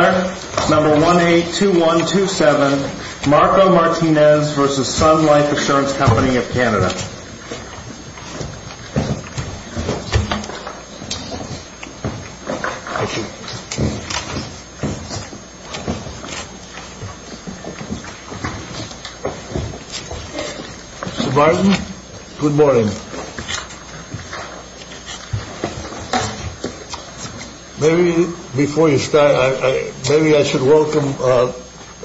Number 182127, Marco Martinez v. Sun Life Assurance Co. of Canada. Mr. Barton, good morning. Maybe before you start, maybe I should welcome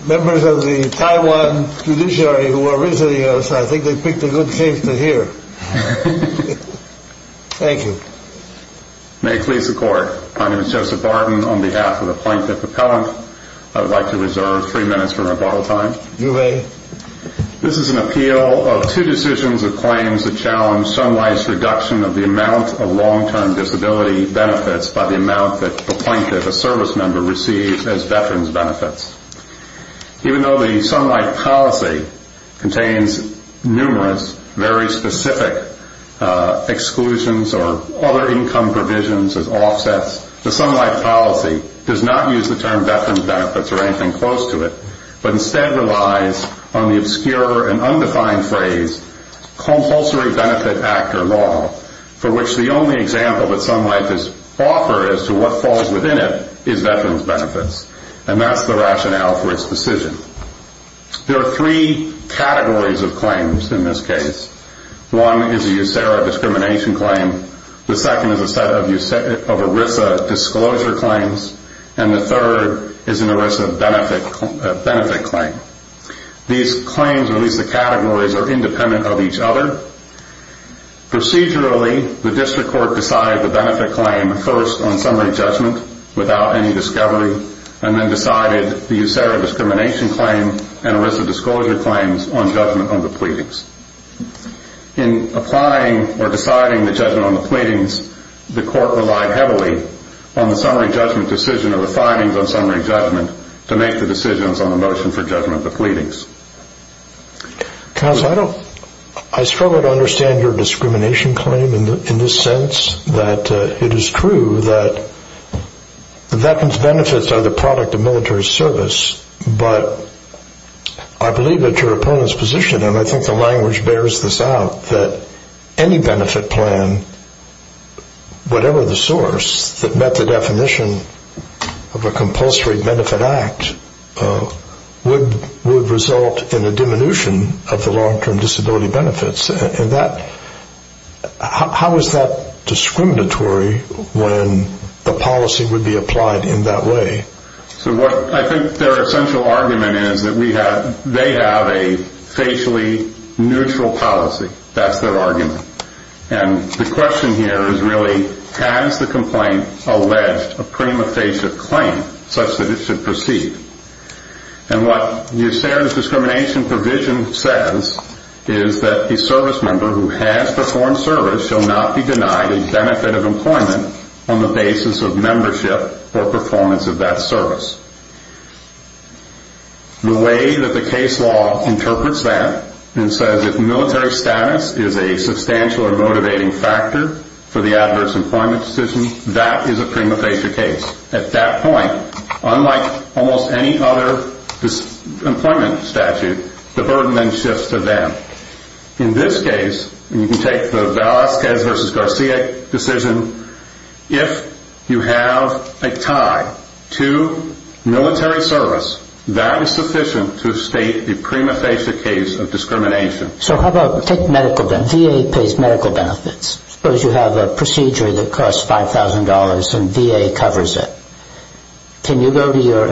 members of the Taiwan Judiciary who are visiting us. I think they picked a good case to hear. Thank you. May it please the Court. My name is Joseph Barton. On behalf of the plaintiff appellant, I would like to reserve three minutes for rebuttal time. You may. This is an appeal of two decisions or claims that challenge Sun Life's reduction of the amount of long-term disability benefits by the amount that the plaintiff or service member receives as veterans benefits. Even though the Sun Life policy contains numerous, very specific exclusions or other income provisions as offsets, the Sun Life policy does not use the term veterans benefits or anything close to it, but instead relies on the obscure and undefined phrase compulsory benefit actor law, for which the only example that Sun Life has offered as to what falls within it is veterans benefits. And that's the rationale for its decision. There are three categories of claims in this case. One is a USERRA discrimination claim, the second is a set of ERISA disclosure claims, and the third is an ERISA benefit claim. These claims, or at least the categories, are independent of each other. Procedurally, the district court decided the benefit claim first on summary judgment without any discovery, and then decided the USERRA discrimination claim and ERISA disclosure claims on judgment on the pleadings. In applying or deciding the judgment on the pleadings, the court relied heavily on the summary judgment decision or the findings on summary judgment to make the decisions on the motion for judgment of the pleadings. Counsel, I struggle to understand your discrimination claim in the sense that it is true that veterans benefits are the product of military service, but I believe that your opponent's position, and I think the language bears this out, that any benefit plan, whatever the source that met the definition of a compulsory benefit act, would result in a diminution of the long-term disability benefits. How is that discriminatory when the policy would be applied in that way? I think their essential argument is that they have a facially neutral policy. That's their argument. The question here is really, has the complaint alleged a prima facie claim such that it should proceed? And what USERRA's discrimination provision says is that a service member who has performed service shall not be denied a benefit of employment on the basis of membership or performance of that service. The way that the case law interprets that and says that military status is a substantial or motivating factor for the adverse employment decision, that is a prima facie case. At that point, unlike almost any other employment statute, the burden then shifts to them. In this case, you can take the Velasquez v. Garcia decision, if you have a tie to military service, that is sufficient to state a prima facie case of discrimination. VA pays medical benefits. Suppose you have a procedure that costs $5,000 and VA covers it. Can you go to your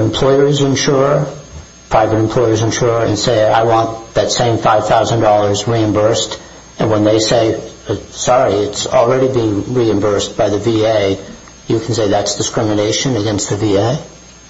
private employer's insurer and say, I want that same $5,000 reimbursed? And when they say, sorry, it's already been reimbursed by the VA, you can say that's discrimination against the VA?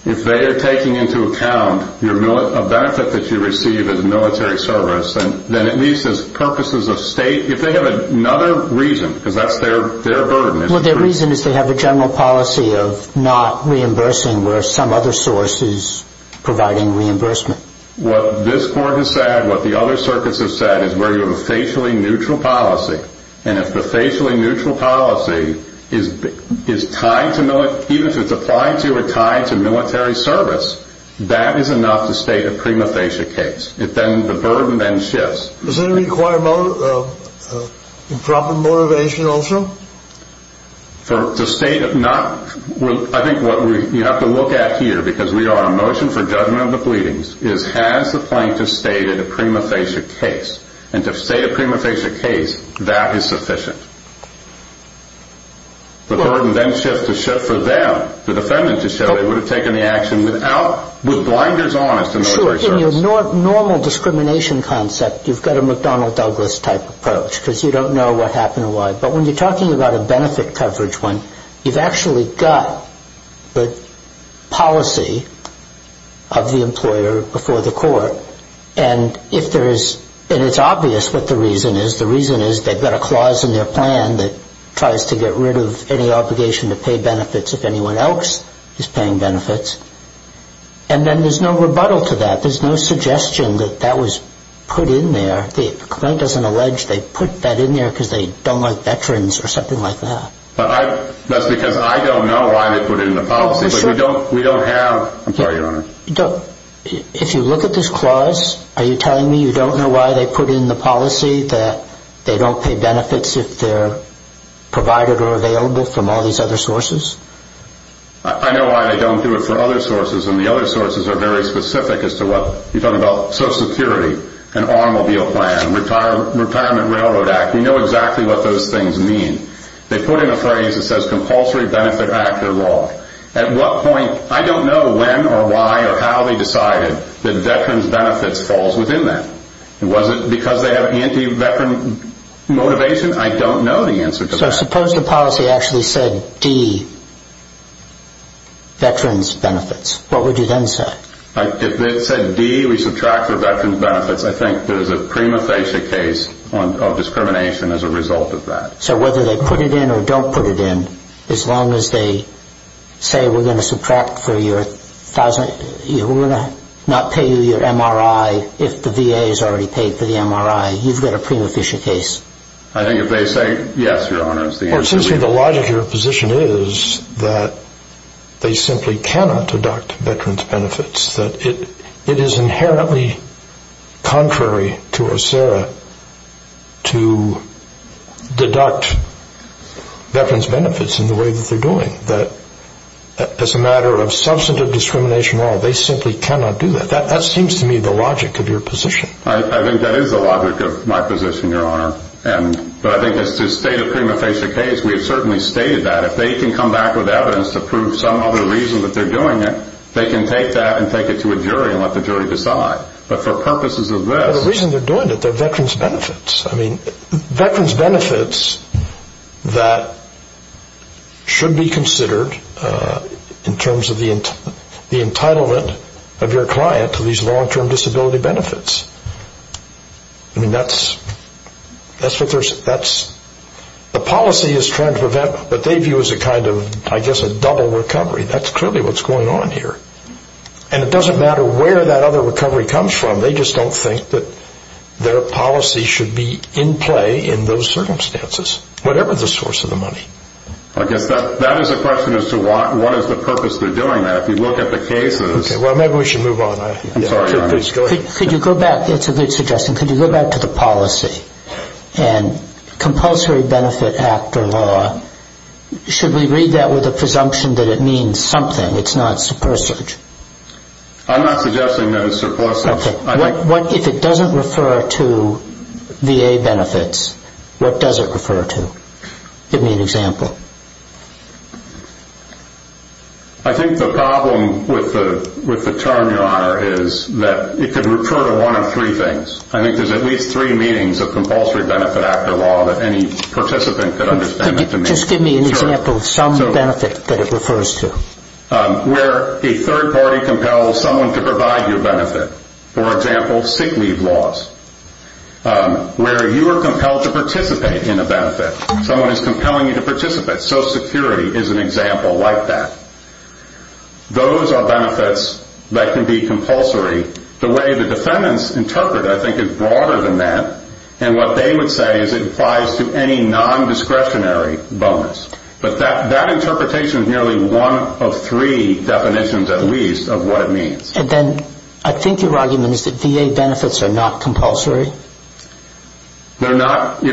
If they are taking into account a benefit that you receive as military service, then at least as purposes of state, if they have another reason, because that's their burden. Well, their reason is they have a general policy of not reimbursing where some other source is providing reimbursement. What this court has said, what the other circuits have said, is where you have a facially neutral policy. And if the facially neutral policy is tied to military service, that is enough to state a prima facie case. The burden then shifts. Does that require improper motivation also? I think what you have to look at here, because we are on a motion for judgment of the pleadings, is has the plaintiff stated a prima facie case? And to state a prima facie case, that is sufficient. The burden then shifts for them, the defendant, to show they would have taken the action with blinders on as to military service. Sure, in your normal discrimination concept, you've got a McDonnell Douglas type approach because you don't know what happened and why. But when you're talking about a benefit coverage one, you've actually got the policy of the employer before the court. And it's obvious what the reason is. The reason is they've got a clause in their plan that tries to get rid of any obligation to pay benefits if anyone else is paying benefits. And then there's no rebuttal to that. There's no suggestion that that was put in there. The claim doesn't allege they put that in there because they don't like veterans or something like that. That's because I don't know why they put it in the policy. We don't have – I'm sorry, Your Honor. If you look at this clause, are you telling me you don't know why they put in the policy that they don't pay benefits if they're provided or available from all these other sources? I know why they don't do it for other sources. And the other sources are very specific as to what – you're talking about Social Security, an automobile plan, Retirement Railroad Act. We know exactly what those things mean. They put in a phrase that says compulsory benefit act or law. At what point – I don't know when or why or how they decided that veterans' benefits falls within that. Was it because they have anti-veteran motivation? I don't know the answer to that. So suppose the policy actually said D, veterans' benefits. What would you then say? If they said D, we subtract for veterans' benefits, I think there's a prima facie case of discrimination as a result of that. So whether they put it in or don't put it in, as long as they say we're going to subtract for your – we're going to not pay you your MRI if the VA has already paid for the MRI, you've got a prima facie case. I think if they say yes, Your Honor, it's the answer. Well, it seems to me the logic of your position is that they simply cannot deduct veterans' benefits. That it is inherently contrary to OSERA to deduct veterans' benefits in the way that they're doing. That as a matter of substantive discrimination law, they simply cannot do that. That seems to me the logic of your position. I think that is the logic of my position, Your Honor. But I think as to state a prima facie case, we have certainly stated that. If they can come back with evidence to prove some other reason that they're doing it, they can take that and take it to a jury and let the jury decide. But for purposes of this – The reason they're doing it, they're veterans' benefits. Veterans' benefits that should be considered in terms of the entitlement of your client to these long-term disability benefits. The policy is trying to prevent what they view as a kind of, I guess, a double recovery. That's clearly what's going on here. And it doesn't matter where that other recovery comes from. They just don't think that their policy should be in play in those circumstances, whatever the source of the money. I guess that is a question as to what is the purpose they're doing that. If you look at the cases – Okay, well, maybe we should move on. I'm sorry, Your Honor. Could you go back – that's a good suggestion. Could you go back to the policy and compulsory benefit act or law? Should we read that with the presumption that it means something? It's not supersurge. I'm not suggesting that it's supersurge. If it doesn't refer to VA benefits, what does it refer to? Give me an example. I think the problem with the term, Your Honor, is that it could refer to one of three things. I think there's at least three meanings of compulsory benefit act or law that any participant could understand. Just give me an example of some benefit that it refers to. Where a third party compels someone to provide you a benefit. For example, sick leave laws. Where you are compelled to participate in a benefit. Someone is compelling you to participate. Social Security is an example like that. Those are benefits that can be compulsory. The way the defendants interpret it, I think, is broader than that. And what they would say is it applies to any non-discretionary bonus. But that interpretation is nearly one of three definitions, at least, of what it means. And then I think your argument is that VA benefits are not compulsory? They're not.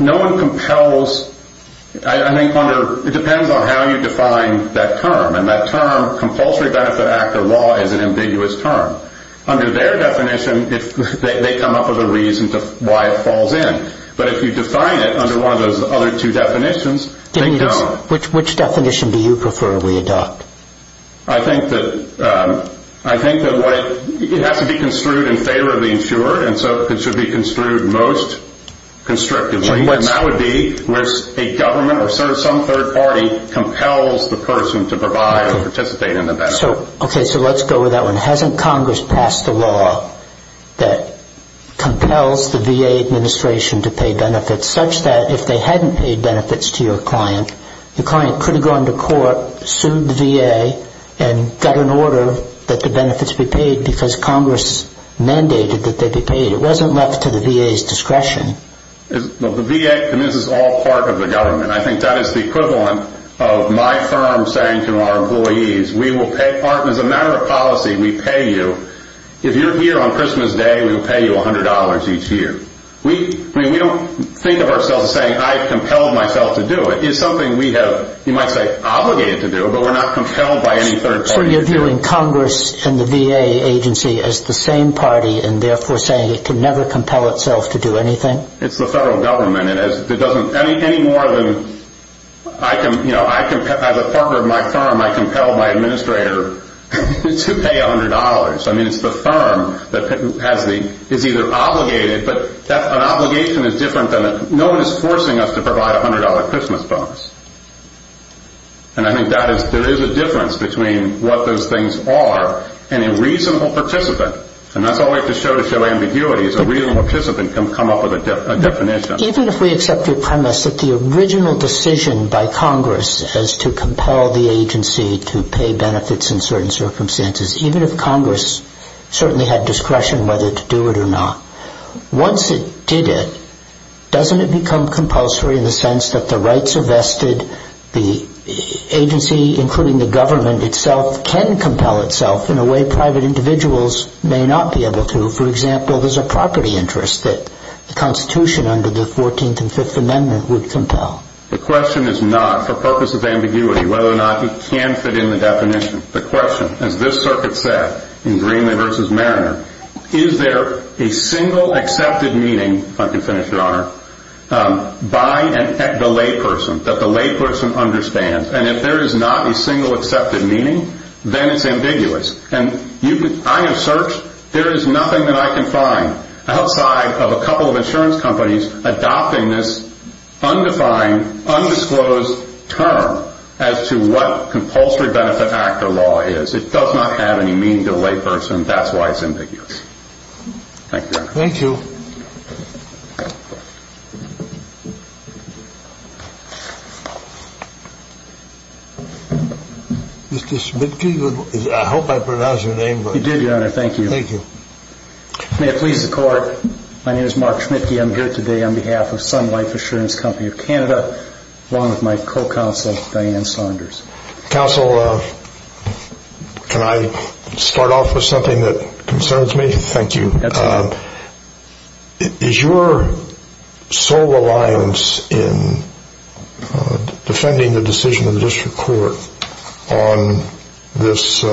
No one compels. I think it depends on how you define that term. And that term, compulsory benefit act or law, is an ambiguous term. Under their definition, they come up with a reason to why it falls in. But if you define it under one of those other two definitions, they don't. Which definition do you prefer we adopt? I think that it has to be construed in favor of the insurer. And so it should be construed most constrictively. And that would be where a government or some third party compels the person to provide or participate in the benefit. Okay, so let's go with that one. Hasn't Congress passed a law that compels the VA administration to pay benefits, such that if they hadn't paid benefits to your client, the client could have gone to court, sued the VA, and got an order that the benefits be paid because Congress mandated that they be paid. It wasn't left to the VA's discretion. The VA, and this is all part of the government. I think that is the equivalent of my firm saying to our employees, as a matter of policy, we pay you. If you're here on Christmas Day, we will pay you $100 each year. We don't think of ourselves as saying I've compelled myself to do it. It's something we have, you might say, obligated to do, but we're not compelled by any third party. So you're viewing Congress and the VA agency as the same party and therefore saying it can never compel itself to do anything? It's the federal government. As a partner of my firm, I compel my administrator to pay $100. I mean, it's the firm that is either obligated, but an obligation is different. No one is forcing us to provide $100 Christmas bonus. And I think there is a difference between what those things are and a reasonable participant. And that's always the show-to-show ambiguity is a reasonable participant can come up with a definition. Even if we accept your premise that the original decision by Congress is to compel the agency to pay benefits in certain circumstances, even if Congress certainly had discretion whether to do it or not, once it did it, doesn't it become compulsory in the sense that the rights are vested, the agency, including the government itself, can compel itself in a way private individuals may not be able to? For example, there's a property interest that the Constitution under the 14th and Fifth Amendment would compel. The question is not for purpose of ambiguity whether or not it can fit in the definition. The question, as this circuit said in Greenlee v. Mariner, is there a single accepted meaning, if I can finish, Your Honor, by the layperson, that the layperson understands? And if there is not a single accepted meaning, then it's ambiguous. And I have searched. There is nothing that I can find outside of a couple of insurance companies adopting this undefined, undisclosed term as to what compulsory benefit act or law is. It does not have any meaning to the layperson. That's why it's ambiguous. Thank you, Your Honor. Thank you. Mr. Schmitke, I hope I pronounced your name right. You did, Your Honor. Thank you. Thank you. May it please the Court, my name is Mark Schmitke. I'm here today on behalf of Sun Life Insurance Company of Canada, along with my co-counsel, Diane Saunders. Counsel, can I start off with something that concerns me? Thank you. Is your sole reliance in defending the decision of the District Court on this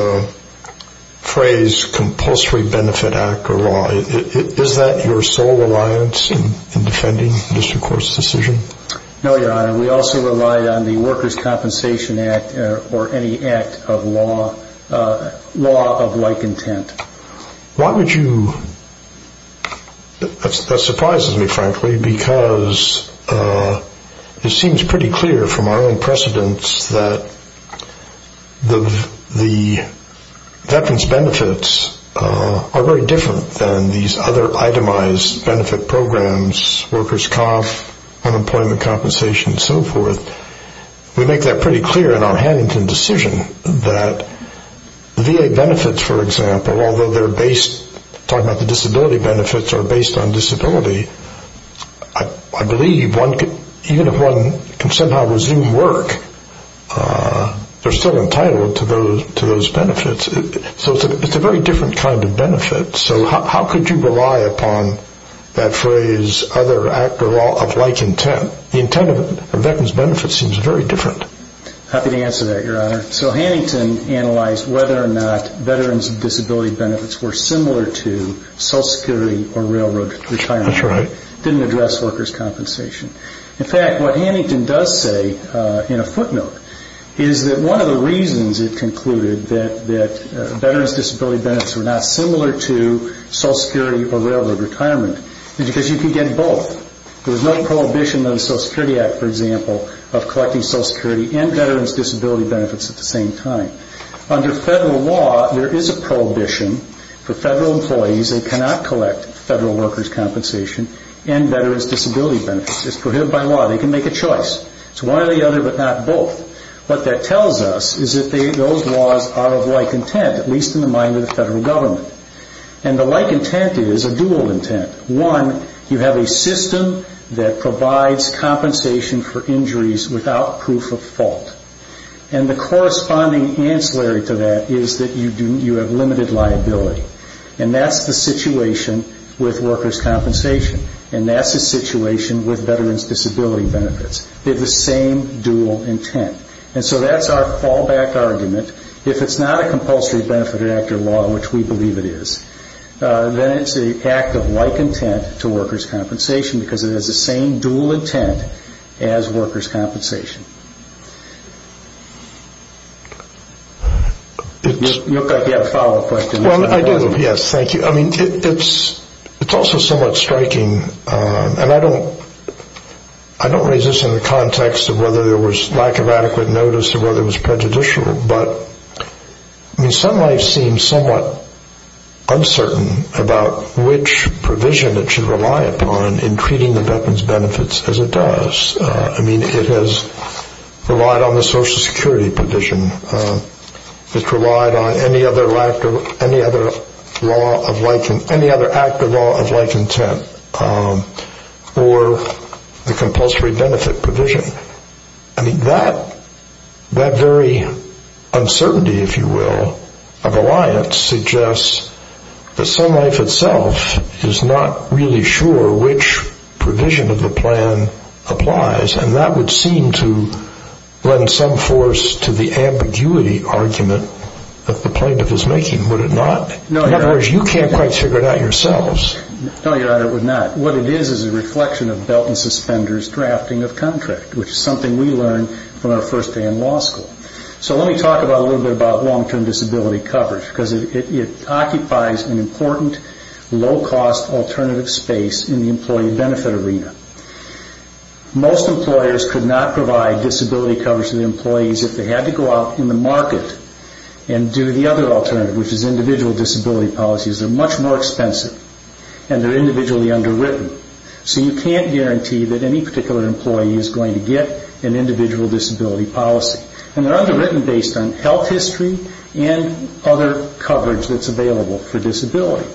phrase, compulsory benefit act or law, is that your sole reliance in defending the District Court's decision? No, Your Honor. We also relied on the Workers' Compensation Act or any act of law, law of like intent. Why would you? That surprises me, frankly, because it seems pretty clear from our own precedence that the veterans' benefits are very different than these other itemized benefit programs, workers' comp, unemployment compensation, and so forth. We make that pretty clear in our Hannington decision that VA benefits, for example, although they're based, talking about the disability benefits, are based on disability, I believe even if one can somehow resume work, they're still entitled to those benefits. So it's a very different kind of benefit. So how could you rely upon that phrase, other act or law of like intent? The intent of veterans' benefits seems very different. Happy to answer that, Your Honor. So Hannington analyzed whether or not veterans' disability benefits were similar to Social Security or railroad retirement. That's right. Didn't address workers' compensation. In fact, what Hannington does say in a footnote is that one of the reasons it concluded that veterans' disability benefits were not similar to Social Security or railroad retirement is because you could get both. There was no prohibition under the Social Security Act, for example, of collecting Social Security and veterans' disability benefits at the same time. Under federal law, there is a prohibition for federal employees that cannot collect federal workers' compensation and veterans' disability benefits. It's prohibited by law. They can make a choice. It's one or the other, but not both. What that tells us is that those laws are of like intent, at least in the mind of the federal government. And the like intent is a dual intent. One, you have a system that provides compensation for injuries without proof of fault. And the corresponding ancillary to that is that you have limited liability. And that's the situation with workers' compensation. And that's the situation with veterans' disability benefits. They have the same dual intent. And so that's our fallback argument. If it's not a compulsory benefit-actor law, which we believe it is, then it's an act of like intent to workers' compensation because it has the same dual intent as workers' compensation. You look like you have a follow-up question. Well, I do. Yes, thank you. I mean, it's also somewhat striking, and I don't raise this in the context of whether there was lack of adequate notice or whether it was prejudicial, but some life seems somewhat uncertain about which provision it should rely upon in treating the veterans' benefits as it does. I mean, it has relied on the Social Security provision. It's relied on any other act of law of like intent or the compulsory benefit provision. I mean, that very uncertainty, if you will, of alliance suggests that some life itself is not really sure which provision of the plan applies, and that would seem to lend some force to the ambiguity argument that the plaintiff is making. Would it not? In other words, you can't quite figure it out yourselves. No, Your Honor, it would not. What it is is a reflection of Belt and Suspender's drafting of contract, which is something we learned from our first day in law school. So let me talk a little bit about long-term disability coverage because it occupies an important low-cost alternative space in the employee benefit arena. Most employers could not provide disability coverage to the employees if they had to go out in the market and do the other alternative, which is individual disability policies. They're much more expensive, and they're individually underwritten. So you can't guarantee that any particular employee is going to get an individual disability policy. And they're underwritten based on health history and other coverage that's available for disability.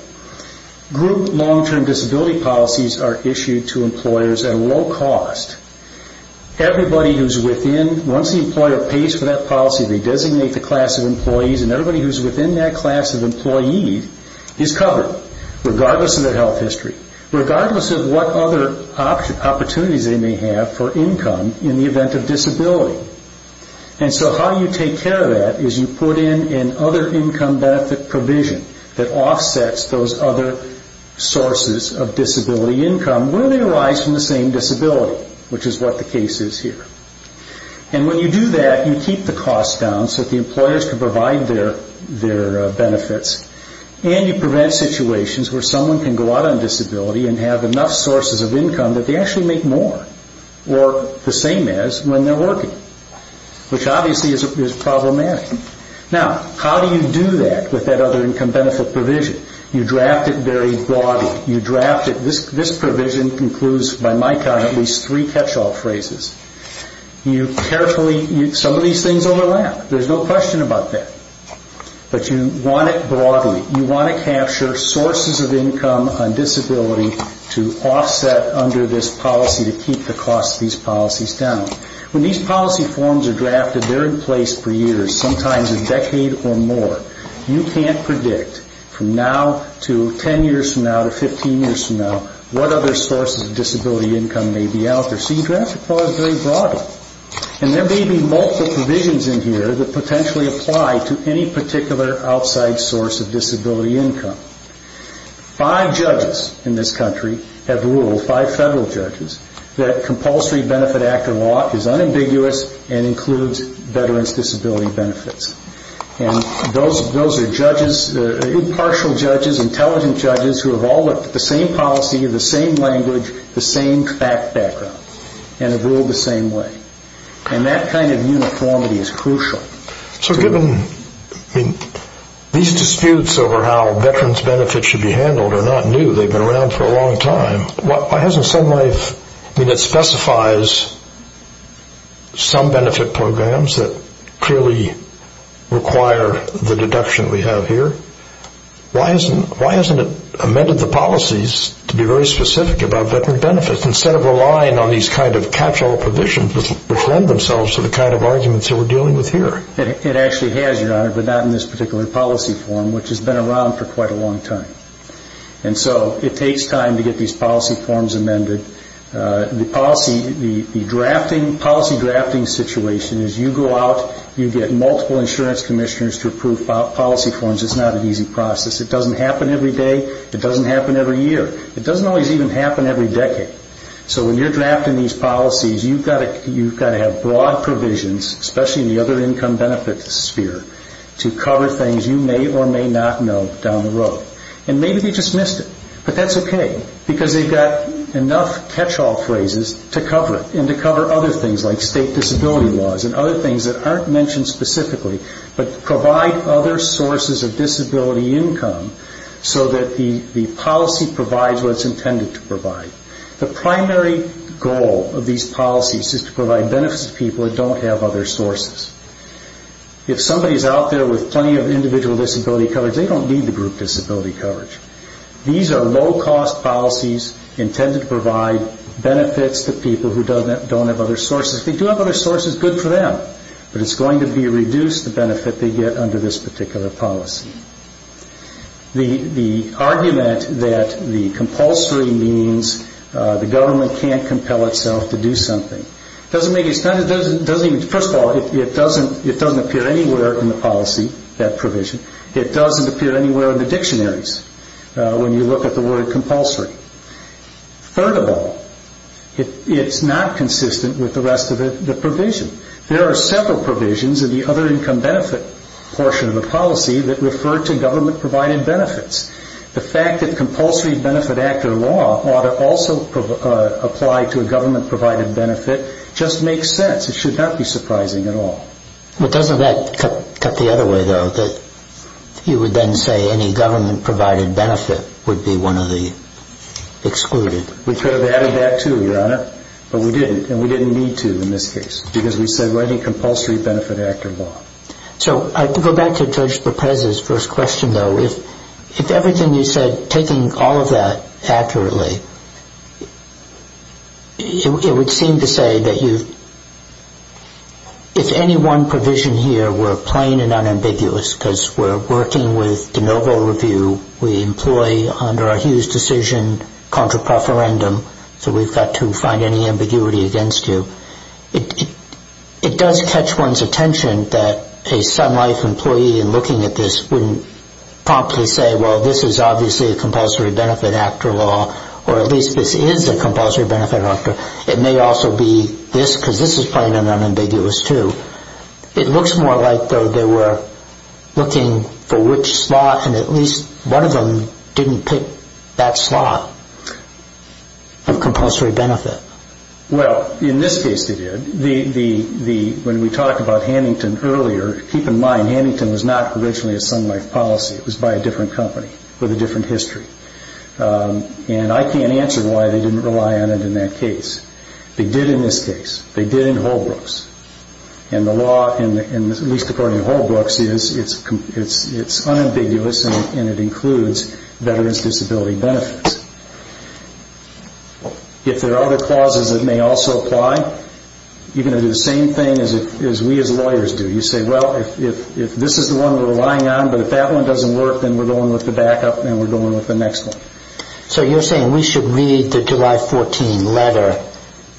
Group long-term disability policies are issued to employers at a low cost. Everybody who's within, once the employer pays for that policy, they designate the class of employees, and everybody who's within that class of employee is covered, regardless of their health history, regardless of what other opportunities they may have for income in the event of disability. And so how you take care of that is you put in an other income benefit provision that offsets those other sources of disability income, where they arise from the same disability, which is what the case is here. And when you do that, you keep the cost down so that the employers can provide their benefits, and you prevent situations where someone can go out on disability and have enough sources of income that they actually make more, or the same as when they're working, which obviously is problematic. Now, how do you do that with that other income benefit provision? You draft it very broadly. This provision includes, by my count, at least three catch-all phrases. Some of these things overlap. There's no question about that. But you want it broadly. You want to capture sources of income on disability to offset under this policy to keep the cost of these policies down. When these policy forms are drafted, they're in place for years, sometimes a decade or more. You can't predict from now to 10 years from now to 15 years from now what other sources of disability income may be out there. So you draft the clause very broadly. And there may be multiple provisions in here that potentially apply to any particular outside source of disability income. Five judges in this country have ruled, five federal judges, that Compulsory Benefit Act of law is unambiguous and includes veterans' disability benefits. And those are judges, impartial judges, intelligent judges, who have all looked at the same policy, the same language, the same background, and have ruled the same way. And that kind of uniformity is crucial. So given these disputes over how veterans' benefits should be handled are not new. They've been around for a long time. Why hasn't Sun Life, I mean it specifies some benefit programs that clearly require the deduction we have here. Why hasn't it amended the policies to be very specific about veteran benefits instead of relying on these kind of catch-all provisions which lend themselves to the kind of arguments that we're dealing with here? It actually has, Your Honor, but not in this particular policy form, which has been around for quite a long time. And so it takes time to get these policy forms amended. The policy drafting situation is you go out, you get multiple insurance commissioners to approve policy forms. It's not an easy process. It doesn't happen every day. It doesn't happen every year. It doesn't always even happen every decade. So when you're drafting these policies, you've got to have broad provisions, especially in the other income benefit sphere, to cover things you may or may not know down the road. And maybe they just missed it, but that's okay because they've got enough catch-all phrases to cover it and to cover other things like state disability laws and other things that aren't mentioned specifically, but provide other sources of disability income so that the policy provides what it's intended to provide. The primary goal of these policies is to provide benefits to people that don't have other sources. If somebody is out there with plenty of individual disability coverage, they don't need the group disability coverage. These are low-cost policies intended to provide benefits to people who don't have other sources. If they do have other sources, good for them, but it's going to reduce the benefit they get under this particular policy. The argument that the compulsory means the government can't compel itself to do something doesn't make any sense. First of all, it doesn't appear anywhere in the policy, that provision. It doesn't appear anywhere in the dictionaries when you look at the word compulsory. Third of all, it's not consistent with the rest of the provision. There are several provisions in the other income benefit portion of the policy that refer to government-provided benefits. The fact that compulsory benefit actor law ought to also apply to a government-provided benefit just makes sense. It should not be surprising at all. But doesn't that cut the other way, though, that you would then say any government-provided benefit would be one of the excluded? We could have added that, too, Your Honor, but we didn't, and we didn't need to in this case because we said writing compulsory benefit actor law. So to go back to Judge Perpeza's first question, though, if everything you said, taking all of that accurately, it would seem to say that if any one provision here were plain and unambiguous because we're working with de novo review, we employ under our Hughes decision contra preferendum, so we've got to find any ambiguity against you, it does catch one's attention that a Sun Life employee in looking at this wouldn't promptly say, well, this is obviously a compulsory benefit actor law or at least this is a compulsory benefit actor. It may also be this because this is plain and unambiguous, too. It looks more like, though, they were looking for which slot and at least one of them didn't pick that slot of compulsory benefit. Well, in this case they did. When we talked about Hannington earlier, keep in mind Hannington was not originally a Sun Life policy. It was by a different company with a different history. And I can't answer why they didn't rely on it in that case. They did in this case. They did in Holbrook's. And the law, at least according to Holbrook's, is it's unambiguous and it includes veterans' disability benefits. If there are other clauses that may also apply, you're going to do the same thing as we as lawyers do. You say, well, if this is the one we're relying on, but if that one doesn't work, then we're going with the backup and we're going with the next one. So you're saying we should read the July 14 letter,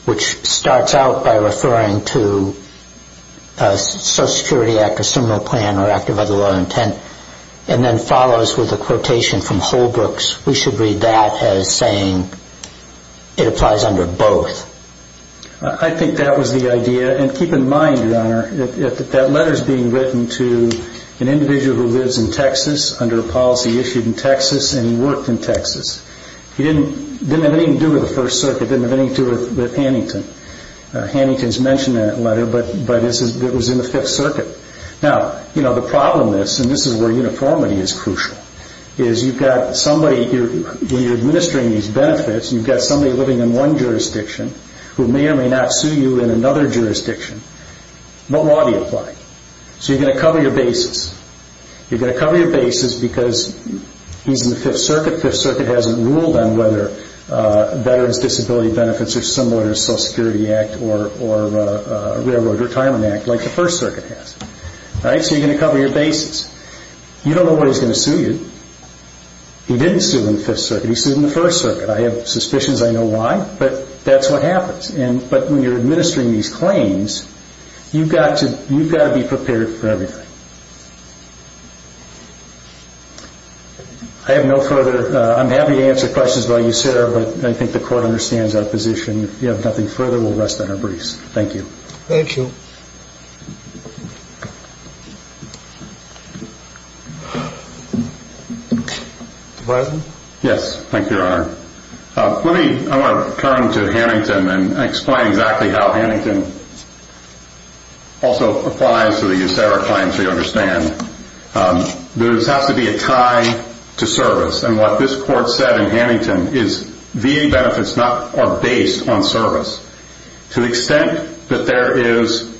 which starts out by referring to Social Security Act or similar plan or act of other law intent, and then follows with a quotation from Holbrook's. We should read that as saying it applies under both. I think that was the idea. And keep in mind, Your Honor, that that letter is being written to an individual who lives in Texas under a policy issued in Texas and he worked in Texas. It didn't have anything to do with the First Circuit. It didn't have anything to do with Hannington. Hannington's mentioned that letter, but it was in the Fifth Circuit. Now, the problem is, and this is where uniformity is crucial, is you've got somebody, when you're administering these benefits, you've got somebody living in one jurisdiction who may or may not sue you in another jurisdiction. What law do you apply? So you're going to cover your bases. You're going to cover your bases because he's in the Fifth Circuit. The Fifth Circuit hasn't ruled on whether veterans' disability benefits are similar to the Social Security Act or Railroad Retirement Act like the First Circuit has. So you're going to cover your bases. You don't know why he's going to sue you. He didn't sue in the Fifth Circuit. He sued in the First Circuit. I have suspicions I know why, but that's what happens. But when you're administering these claims, you've got to be prepared for everything. I have no further. I'm happy to answer questions about you, sir, but I think the Court understands our position. If you have nothing further, we'll rest on our breeze. Thank you. Thank you. Mr. Bison? Yes. Thank you, Your Honor. I want to turn to Hannington and explain exactly how Hannington also applies to the USARA claims, so you understand. There has to be a tie to service, and what this Court said in Hannington is VA benefits are based on service. To the extent that there is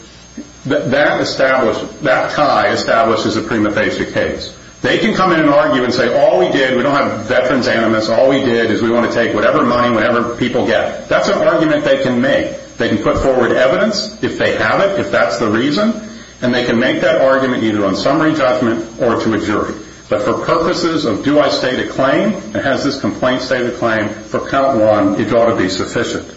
that tie establishes a prima facie case. They can come in and argue and say, all we did, we don't have veterans animus, all we did is we want to take whatever money, whatever people get. That's an argument they can make. They can put forward evidence if they have it, if that's the reason, and they can make that argument either on summary judgment or to a jury. But for purposes of do I state a claim, and has this complaint state a claim, for count one, it ought to be sufficient.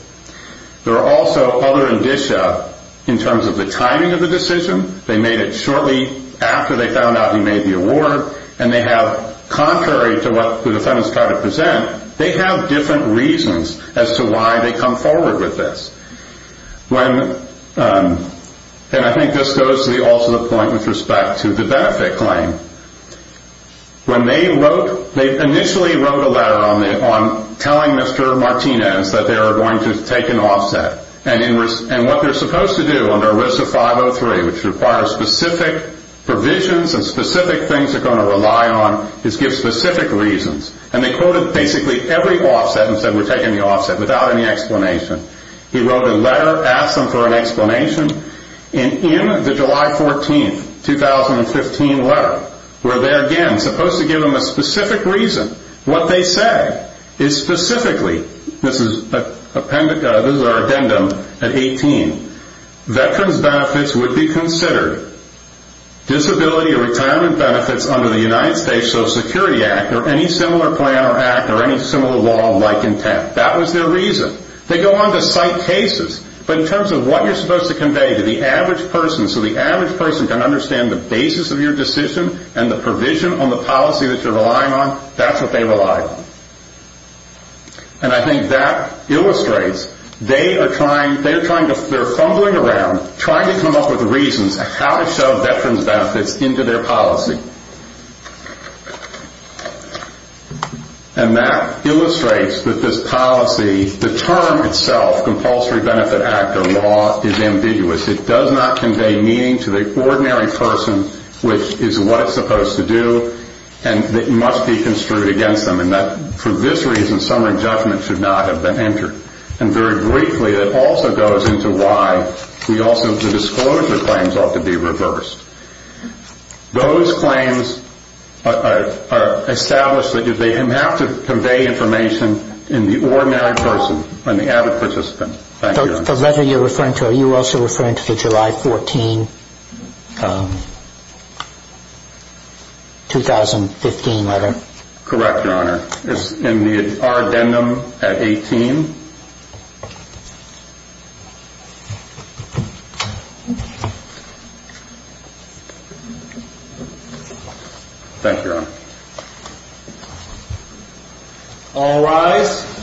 There are also other indicia in terms of the timing of the decision. They made it shortly after they found out he made the award, and they have contrary to what the defendants try to present, they have different reasons as to why they come forward with this. And I think this goes to also the point with respect to the benefit claim. When they wrote, they initially wrote a letter on telling Mr. Martinez that they were going to take an offset, and what they're supposed to do under WISA 503, which requires specific provisions and specific things they're going to rely on, is give specific reasons. And they quoted basically every offset and said we're taking the offset, without any explanation. He wrote a letter, asked them for an explanation, and in the July 14, 2015 letter, where they're again supposed to give them a specific reason, what they said is specifically, this is our addendum at 18, veterans benefits would be considered disability or retirement benefits under the United States Social Security Act, or any similar plan or act, or any similar law like intent. That was their reason. They go on to cite cases, but in terms of what you're supposed to convey to the average person so the average person can understand the basis of your decision and the provision on the policy that you're relying on, that's what they relied on. And I think that illustrates they are trying, they're fumbling around trying to come up with reasons how to shove veterans benefits into their policy. And that illustrates that this policy, the term itself, Compulsory Benefit Act or law, is ambiguous. It does not convey meaning to the ordinary person, which is what it's supposed to do, and it must be construed against them, and that for this reason, some adjustment should not have been entered. And very briefly, it also goes into why we also, the disclosure claims ought to be reversed. Those claims are established that if they have to convey information in the ordinary person, in the average participant. Thank you, Your Honor. The letter you're referring to, are you also referring to the July 14, 2015 letter? Correct, Your Honor. It's in our addendum at 18. Thank you, Your Honor. All rise.